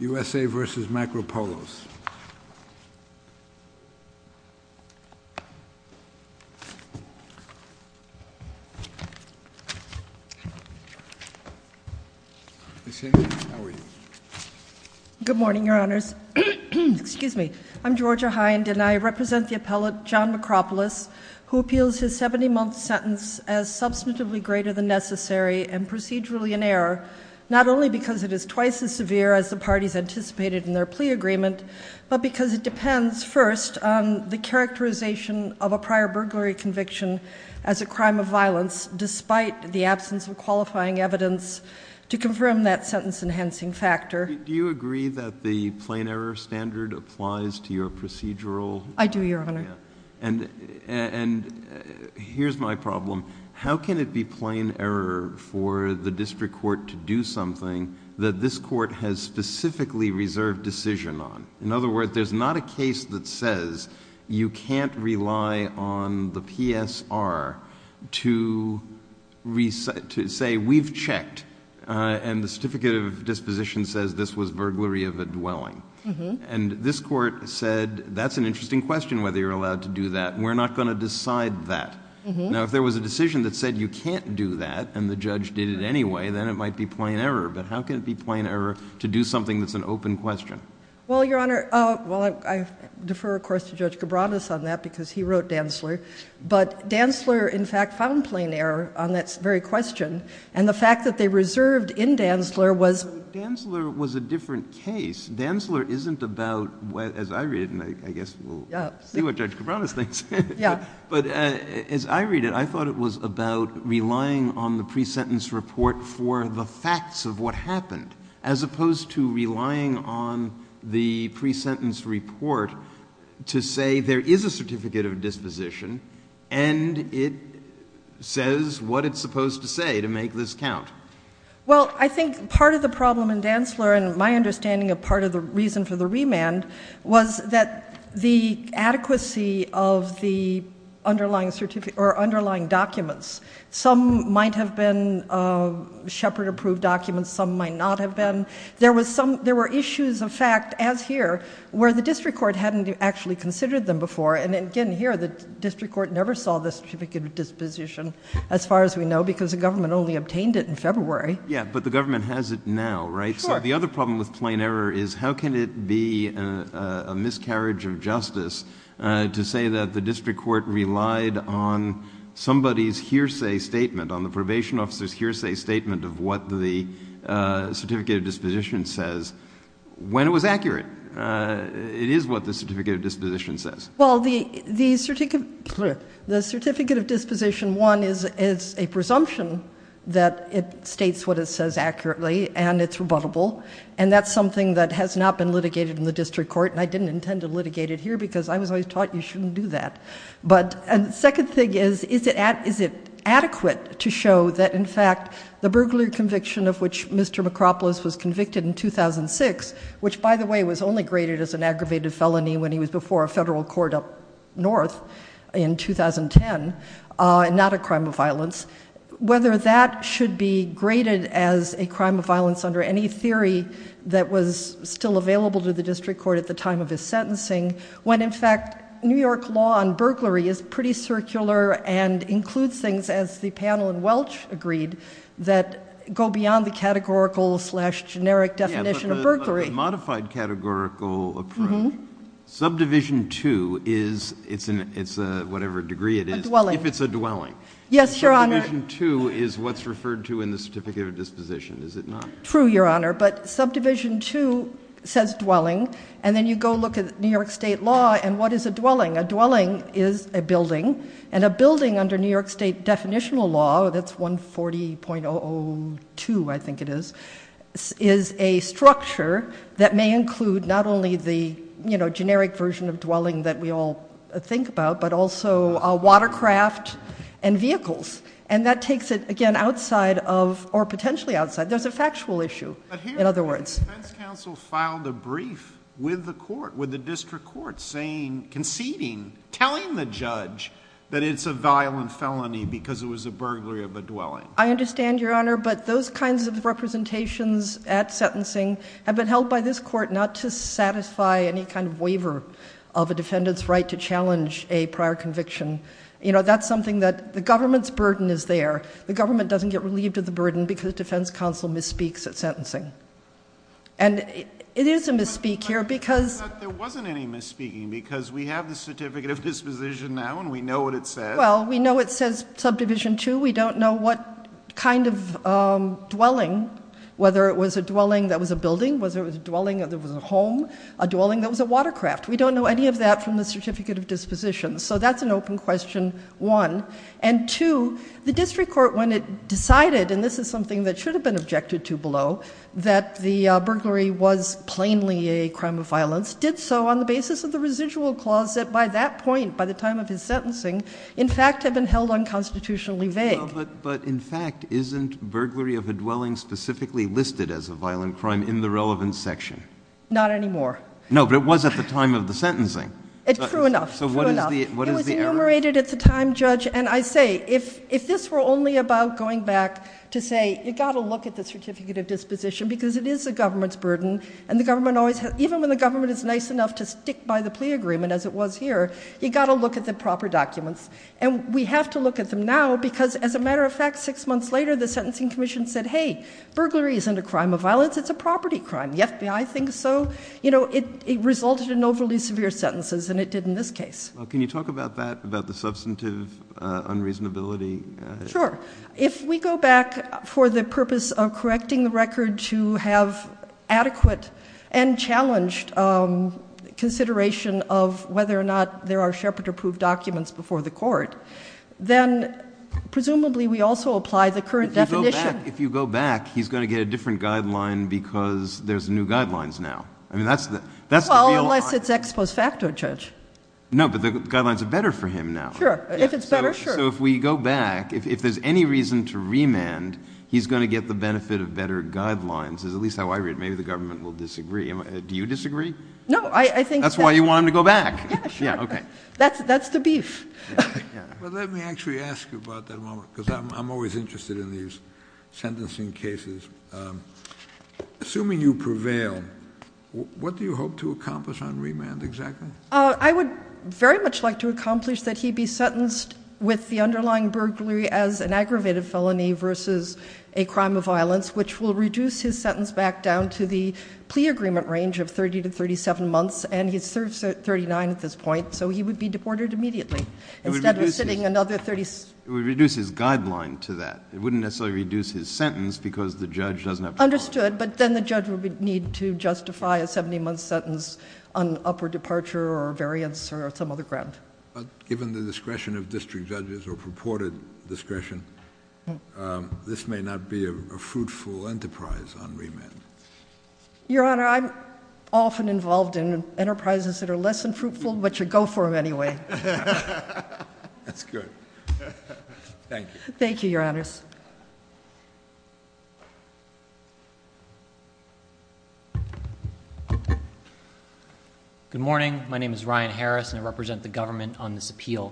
U.S.A. v. Macropolos. Good morning, your honors. Excuse me. I'm Georgia Hind, and I represent the appellate John Macropolis, who appeals his 70-month sentence as substantively greater than necessary and procedurally in error, not only because it is twice as severe as the parties anticipated in their plea agreement, but because it depends first on the characterization of a prior burglary conviction as a crime of violence, despite the absence of qualifying evidence to confirm that sentence-enhancing factor. Do you agree that the plain error standard applies to your procedural... I do, your honor. And here's my problem. How can it be plain error for the district court to do something that this court has specifically reserved decision on? In other words, there's not a case that says you can't rely on the PSR to say, we've checked, and the certificate of disposition says this was burglary of a dwelling. And this court said, that's an interesting question, whether you're allowed to do that. We're not going to decide that. Now, if there was a decision that said you can't do that, and the judge did it anyway, then it might be plain error. But how can it be plain error to do something that's an open question? Well, your honor, I defer, of course, to Judge Cabranes on that, because he wrote Dantzler. But Dantzler, in fact, found plain error on that very question. And the fact that they reserved in Dantzler was... Dantzler was a different case. Dantzler isn't about, as I read it, and I guess we'll see what Judge Cabranes thinks, but as I read it, I thought it was about relying on the pre-sentence report for the facts of what happened, as opposed to relying on the pre-sentence report to say there is a certificate of disposition and it says what it's supposed to say to make this count. Well, I think part of the problem in Dantzler, and my understanding of part of the reason for the remand, was that the adequacy of the underlying documents, some might have been Shepard-approved documents, some might not have been. There were issues of fact, as here, where the district court hadn't actually considered them before. And again, here, the district court never saw the certificate of disposition, as far as we know, because the government only obtained it in February. Yeah, but the government has it now, right? Sure. The other problem with plain error is how can it be a miscarriage of justice to say that the district court relied on somebody's hearsay statement, on the probation officer's hearsay statement of what the certificate of disposition says, when it was accurate. It is what the certificate of disposition says. Well, the certificate of disposition, one, is a presumption that it states what it says accurately, and it's rebuttable, and that's something that has not been litigated in the district court, and I didn't intend to litigate it here, because I was always taught you shouldn't do that. But the second thing is, is it adequate to show that, in fact, the burglary conviction of which Mr. McRopolis was convicted in 2006, which, by the way, was only graded as an aggravated felony when he was before a federal court up north in 2010, and not a crime of violence, whether that should be graded as a crime of violence under any theory that was still available to the district court at the time of his sentencing, when, in fact, New York law on burglary is pretty circular and includes things, as the panel in Welch agreed, that go beyond the categorical-slash-generic definition of burglary. Yeah, but a modified categorical approach, subdivision two is, it's a whatever degree it is, A dwelling. if it's a dwelling. Yes, Your Honor. Subdivision two is what's referred to in the certificate of disposition, is it not? True, Your Honor, but subdivision two says dwelling, and then you go look at New York state law, and what is a dwelling? A dwelling is a building, and a building under New York state definitional law, that's 140.002, I think it is, is a structure that may include not only the, you know, generic version of dwelling that we all think about, but also a watercraft and vehicles, and that takes it, again, outside of, or potentially outside, there's a factual issue, in other words. But here the defense counsel filed a brief with the court, with the district court, saying, conceding, telling the judge that it's a violent felony because it was a burglary of a dwelling. I understand, Your Honor, but those kinds of representations at sentencing have been held by this court not to satisfy any kind of waiver of a defendant's right to challenge a prior conviction. You know, that's something that the government's burden is there. The government doesn't get relieved of the burden because the defense counsel misspeaks at sentencing. And it is a misspeak here because... But there wasn't any misspeaking because we have the certificate of disposition now, and we know what it says. Well, we know it says subdivision two. We don't know what kind of dwelling, whether it was a dwelling that was a building, whether it was a dwelling that was a home, a dwelling that was a watercraft. We don't know any of that from the certificate of disposition. So that's an open question, one. And two, the district court, when it decided, and this is something that should have been objected to below, that the burglary was plainly a crime of violence, did so on the basis of the residual clause that by that point, by the time of his sentencing, in fact had been held unconstitutionally vague. But in fact, isn't burglary of a dwelling specifically listed as a violent crime in the relevant section? Not anymore. No, but it was at the time of the sentencing. True enough. So what is the error? It was enumerated at the time, Judge. And I say, if this were only about going back to say, you've got to look at the certificate of disposition because it is the government's burden, and even when the government is nice enough to stick by the plea agreement, as it was here, you've got to look at the proper documents. And we have to look at them now because, as a matter of fact, six months later, the Sentencing Commission said, hey, burglary isn't a crime of violence, it's a property crime. Yet I think so. You know, it resulted in overly severe sentences, and it did in this case. Well, can you talk about that, about the substantive unreasonability? Sure. If we go back for the purpose of correcting the record to have adequate and challenged consideration of whether or not there are Shepard-approved documents before the court, then presumably we also apply the current definition. If you go back, he's going to get a different guideline because there's new guidelines now. I mean, that's the real... Well, unless it's ex post facto, Judge. No, but the guidelines are better for him now. Sure. If it's better, sure. So if we go back, if there's any reason to remand, he's going to get the benefit of better guidelines, is at least how I read it. Maybe the government will disagree. Do you disagree? No, I think... That's why you want him to go back. Yeah, sure. Yeah, okay. That's the beef. Well, let me actually ask you about that a moment because I'm always interested in these sentencing cases. Assuming you prevail, what do you hope to accomplish on remand exactly? I would very much like to accomplish that he be sentenced with the underlying burglary as an aggravated felony versus a crime of violence, which will reduce his sentence back down to the plea agreement range of 30 to 37 months, and he's 39 at this point, so he would be deported immediately instead of sitting another 30... It would reduce his guideline to that. It wouldn't necessarily reduce his sentence because the judge doesn't have to... Understood, but then the judge would need to justify a 70-month sentence on upward departure or variance or some other ground. Given the discretion of district judges or purported discretion, this may not be a fruitful enterprise on remand. Your Honor, I'm often involved in enterprises that are less than fruitful, but you go for them anyway. That's good. Thank you. Thank you, Your Honors. Good morning. My name is Ryan Harris, and I represent the government on this appeal.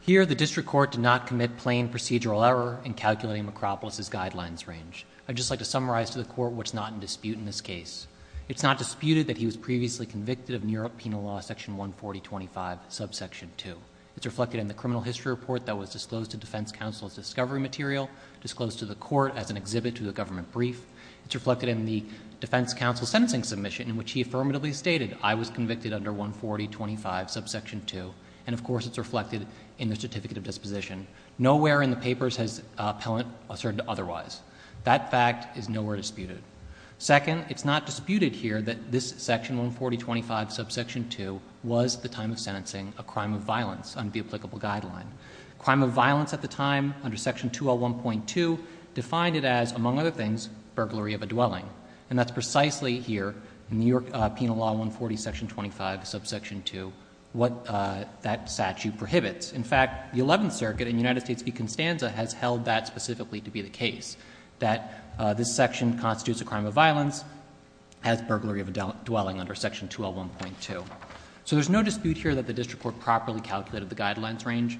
Here, the district court did not commit plain procedural error in calculating McRopolis's guidelines range. I'd just like to summarize to the court what's not in dispute in this case. It's not disputed that he was previously convicted of New York Penal Law, Section 140.25, subsection 2. It's reflected in the criminal history report that was disclosed to defense counsel as discovery material, disclosed to the court as an exhibit to the government brief. It's reflected in the defense counsel's sentencing submission in which he affirmatively stated, I was convicted under 140.25, subsection 2. And, of course, it's reflected in the certificate of disposition. Nowhere in the papers has Pellant asserted otherwise. That fact is nowhere disputed. Second, it's not disputed here that this Section 140.25, subsection 2 was the time of sentencing a crime of violence under the applicable guideline. Crime of violence at the time, under Section 201.2, defined it as, among other things, burglary of a dwelling. And that's precisely here, in New York Penal Law 140, Section 25, subsection 2, what that statute prohibits. In fact, the Eleventh Circuit in United States v. Constanza has held that specifically to be the case, that this section constitutes a crime of violence, as burglary of a dwelling under Section 201.2. So there's no dispute here that the district court properly calculated the guidelines range.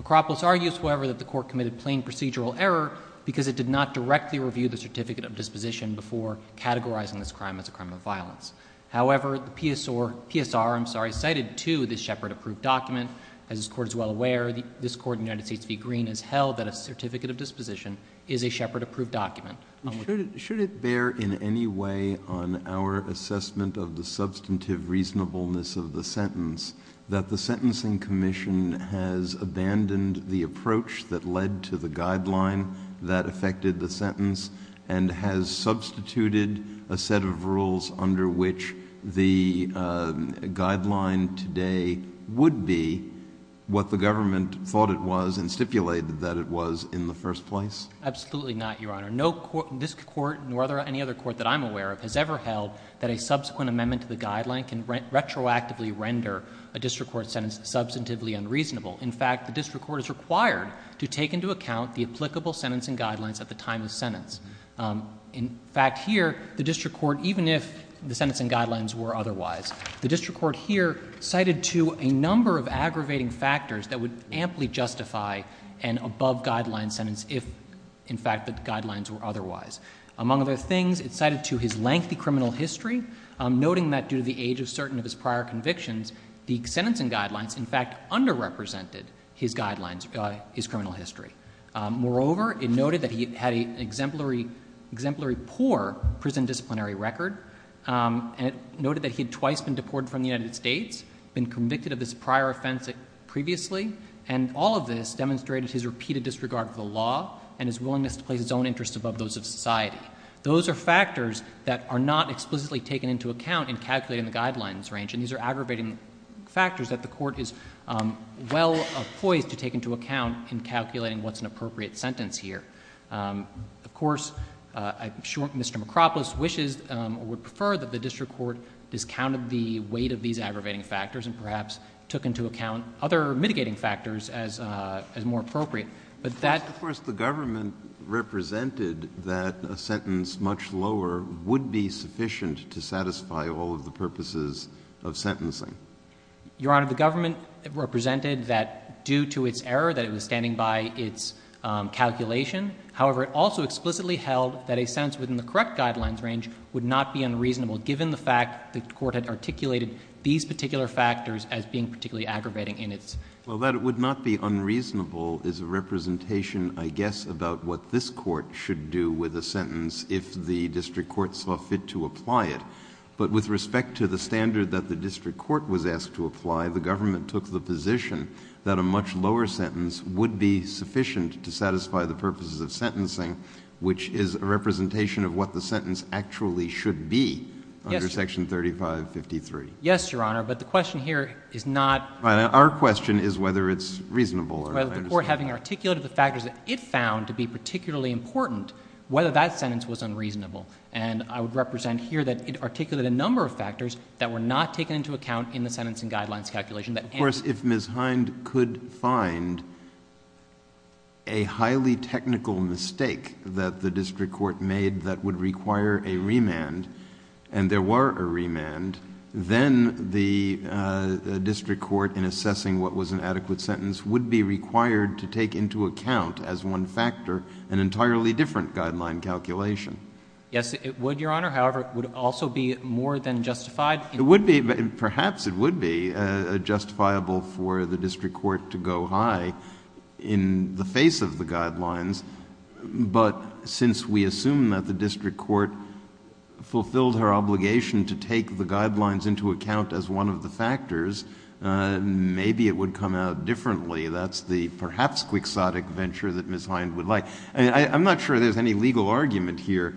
McRopolis argues, however, that the court committed plain procedural error because it did not directly review the certificate of disposition before categorizing this crime as a crime of violence. However, the PSR cited, too, this Shepard-approved document. As this Court is well aware, this Court in the United States v. Green has held that a certificate of disposition is a Shepard-approved document. Should it bear in any way on our assessment of the substantive reasonableness of the sentence that the Sentencing Commission has abandoned the approach that led to the guideline that affected the sentence and has substituted a set of rules under which the guideline today would be what the government thought it was and stipulated that it was in the first place? Absolutely not, Your Honor. This Court, nor any other court that I'm aware of, has ever held that a subsequent amendment to the guideline can retroactively render a district court sentence substantively unreasonable. In fact, the district court is required to take into account the applicable sentencing guidelines at the time of the sentence. In fact, here, the district court, even if the sentencing guidelines were otherwise, the district court here cited, too, a number of aggravating factors that would amply justify an above-guideline sentence if, in fact, the guidelines were otherwise. Among other things, it cited, too, his lengthy criminal history, noting that due to the age of certain of his prior convictions, the sentencing guidelines, in fact, underrepresented his guidelines, his criminal history. Moreover, it noted that he had an exemplary poor prison disciplinary record, and it noted that he had twice been deported from the United States, been convicted of this prior offense previously, and all of this demonstrated his repeated disregard for the law and his willingness to place his own interests above those of society. Those are factors that are not explicitly taken into account in calculating the guidelines range, and these are aggravating factors that the court is well poised to take into account in calculating what's an appropriate sentence here. Of course, I'm sure Mr. McRopolis wishes or would prefer that the district court discounted the weight of these aggravating factors and perhaps took into account other mitigating factors as more appropriate, but that... Of course, the government represented that a sentence much lower would be sufficient to satisfy all of the purposes of sentencing. Your Honor, the government represented that due to its error, that it was standing by its calculation. However, it also explicitly held that a sentence within the correct guidelines range would not be unreasonable, given the fact the court had articulated these particular factors as being particularly aggravating in its... Well, that it would not be unreasonable is a representation, I guess, about what this court should do with a sentence if the district court saw fit to apply it. But with respect to the standard that the district court was asked to apply, the government took the position that a much lower sentence would be sufficient to satisfy the purposes of sentencing, which is a representation of what the sentence actually should be under Section 3553. Yes, Your Honor, but the question here is not... Our question is whether it's reasonable or not. ...or having articulated the factors that it found to be particularly important, whether that sentence was unreasonable. And I would represent here that it articulated a number of factors that were not taken into account in the sentencing guidelines calculation. Of course, if Ms. Hind could find a highly technical mistake that the district court made that would require a remand, and there were a remand, then the district court, in assessing what was an adequate sentence, would be required to take into account, as one factor, an entirely different guideline calculation. Yes, it would, Your Honor. However, it would also be more than justified. It would be, perhaps it would be, justifiable for the district court to go high in the face of the guidelines. But since we assume that the district court fulfilled her obligation to take the guidelines into account as one of the factors, maybe it would come out differently. That's the perhaps quixotic venture that Ms. Hind would like. I'm not sure there's any legal argument here.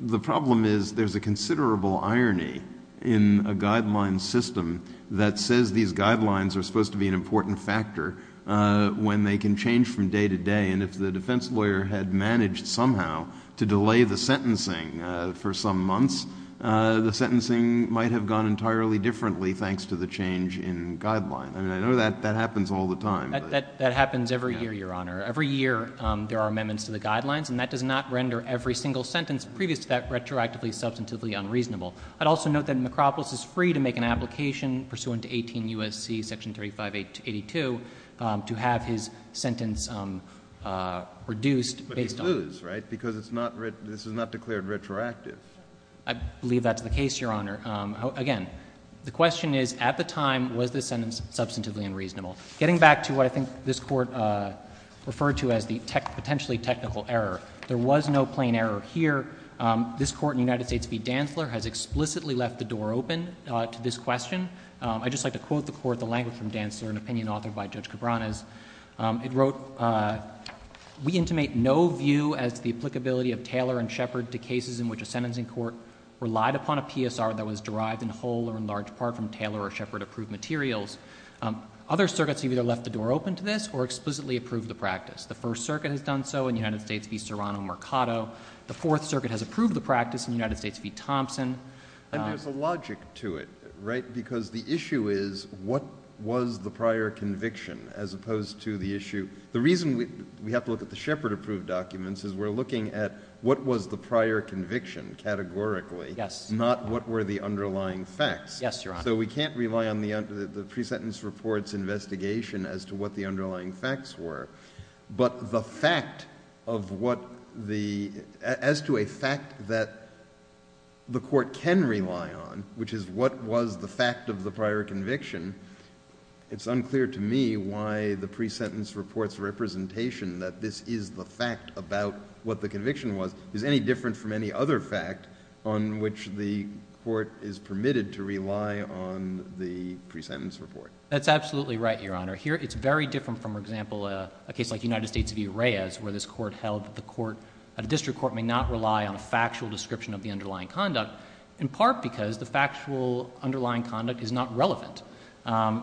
The problem is there's a considerable irony in a guideline system that says these guidelines are supposed to be an important factor when they can change from day to day. And if the defense lawyer had managed somehow to delay the sentencing for some months, the sentencing might have gone entirely differently thanks to the change in guideline. I mean, I know that happens all the time. That happens every year, Your Honor. Every year there are amendments to the guidelines, and that does not render every single sentence previous to that retroactively, substantively unreasonable. I'd also note that McRopolis is free to make an application pursuant to 18 U.S.C. section 3582 to have his sentence reduced based on... But he'd lose, right? Because this is not declared retroactive. I believe that's the case, Your Honor. Again, the question is, at the time, was this sentence substantively unreasonable? Getting back to what I think this Court referred to as the potentially technical error, there was no plain error here. This Court in the United States v. Dantzler has explicitly left the door open to this question. I'd just like to quote the Court, the language from Dantzler, an opinion authored by Judge Cabranes. It wrote... Other circuits have either left the door open to this or explicitly approved the practice. The First Circuit has done so in the United States v. Serrano-Mercado. The Fourth Circuit has approved the practice in the United States v. Thompson. And there's a logic to it, right? Because the issue is, what was the prior conviction, as opposed to the issue... The reason we have to look at the Shepard-approved documents is we're looking at what was the prior conviction categorically... Yes. ...not what were the underlying facts. Yes, Your Honor. So we can't rely on the pre-sentence report's investigation as to what the underlying facts were. But the fact of what the... As to a fact that the Court can rely on, which is what was the fact of the prior conviction, it's unclear to me why the pre-sentence report's representation that this is the fact about what the conviction was is any different from any other fact on which the Court is permitted to rely on the pre-sentence report. That's absolutely right, Your Honor. Here, it's very different from, for example, a case like United States v. Reyes, where this Court held that the District Court may not rely on a factual description of the underlying conduct, in part because the factual underlying conduct is not relevant.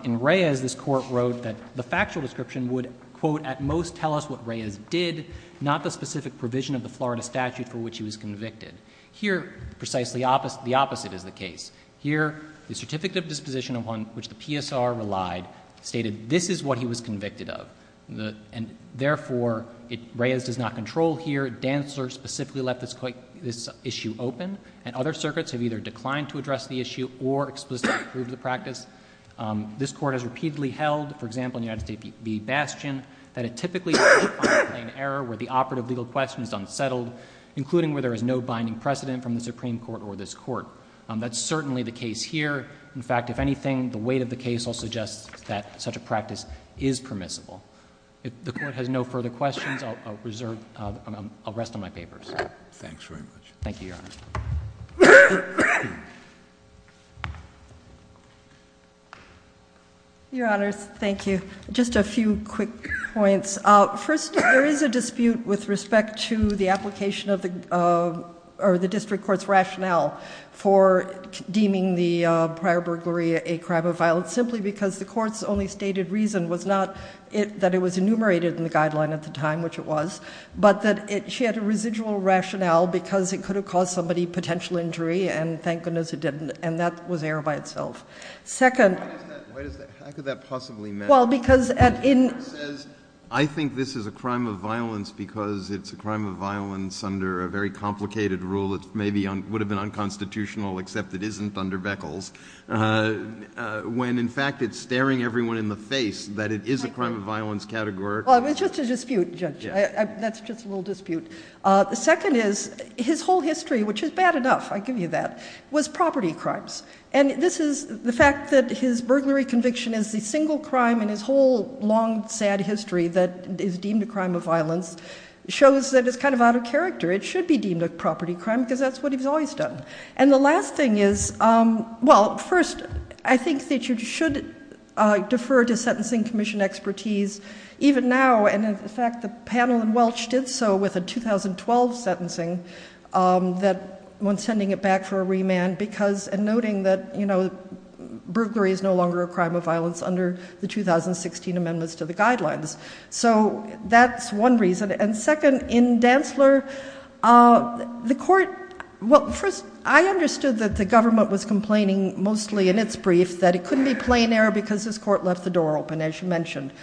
In Reyes, this Court wrote that the factual description would, quote, at most tell us what Reyes did, not the specific provision of the Florida statute for which he was convicted. Here, precisely the opposite is the case. Here, the certificate of disposition upon which the PSR relied stated this is what he was convicted of. And therefore, Reyes does not control here. Dantzler specifically left this issue open. And other circuits have either declined to address the issue or explicitly approved the practice. This Court has repeatedly held, for example, in United States v. Bastion, that it typically is an error where the operative legal question is unsettled, including where there is no binding precedent from the Supreme Court or this Court. That's certainly the case here. In fact, if anything, the weight of the case also suggests that such a practice is permissible. If the Court has no further questions, I'll reserve, I'll rest on my papers. Thanks very much. Thank you, Your Honor. Your Honors, thank you. Just a few quick points. First, there is a dispute with respect to the application of the District Court's rationale for deeming the prior burglary a crime of violence simply because the Court's only stated reason was not that it was enumerated in the guideline at the time, which it was, but that she had a residual rationale because it could have caused somebody potential injury, and thank goodness it didn't, and that was error by itself. Second... Why does that... How could that possibly matter? Well, because... I think this is a crime of violence because it's a crime of violence under a very complicated rule that maybe would have been unconstitutional except it isn't under Beckles, when in fact it's staring everyone in the face that it is a crime of violence category. Well, it was just a dispute, Judge. That's just a little dispute. The second is, his whole history, which is bad enough, I give you that, was property crimes, and this is the fact that his burglary conviction as the single crime in his whole long, sad history that is deemed a crime of violence shows that it's kind of out of character. It should be deemed a property crime because that's what he's always done. And the last thing is... Well, first, I think that you should defer to Sentencing Commission expertise even now, and in fact the panel in Welch did so with a 2012 sentencing when sending it back for a remand, and noting that, you know, under the 2016 amendments to the guidelines. So that's one reason. And second, in Dantzler, the court... Well, first, I understood that the government was complaining mostly in its brief that it couldn't be plain error because this court left the door open, as you mentioned.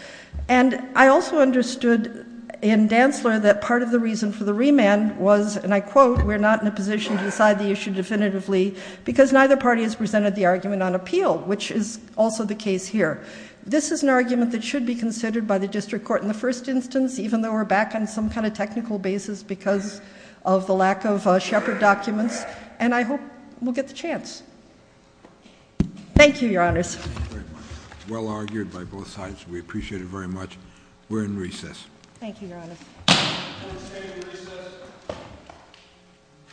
And I also understood in Dantzler that part of the reason for the remand was, and I quote, we're not in a position to decide the issue definitively because neither party has presented the argument on appeal, which is also the case here. This is an argument that should be considered by the district court in the first instance, even though we're back on some kind of technical basis because of the lack of Shepard documents, and I hope we'll get the chance. Thank you, Your Honors. Well argued by both sides. We appreciate it very much. We're in recess. Thank you, Your Honors. Court is adjourned in recess.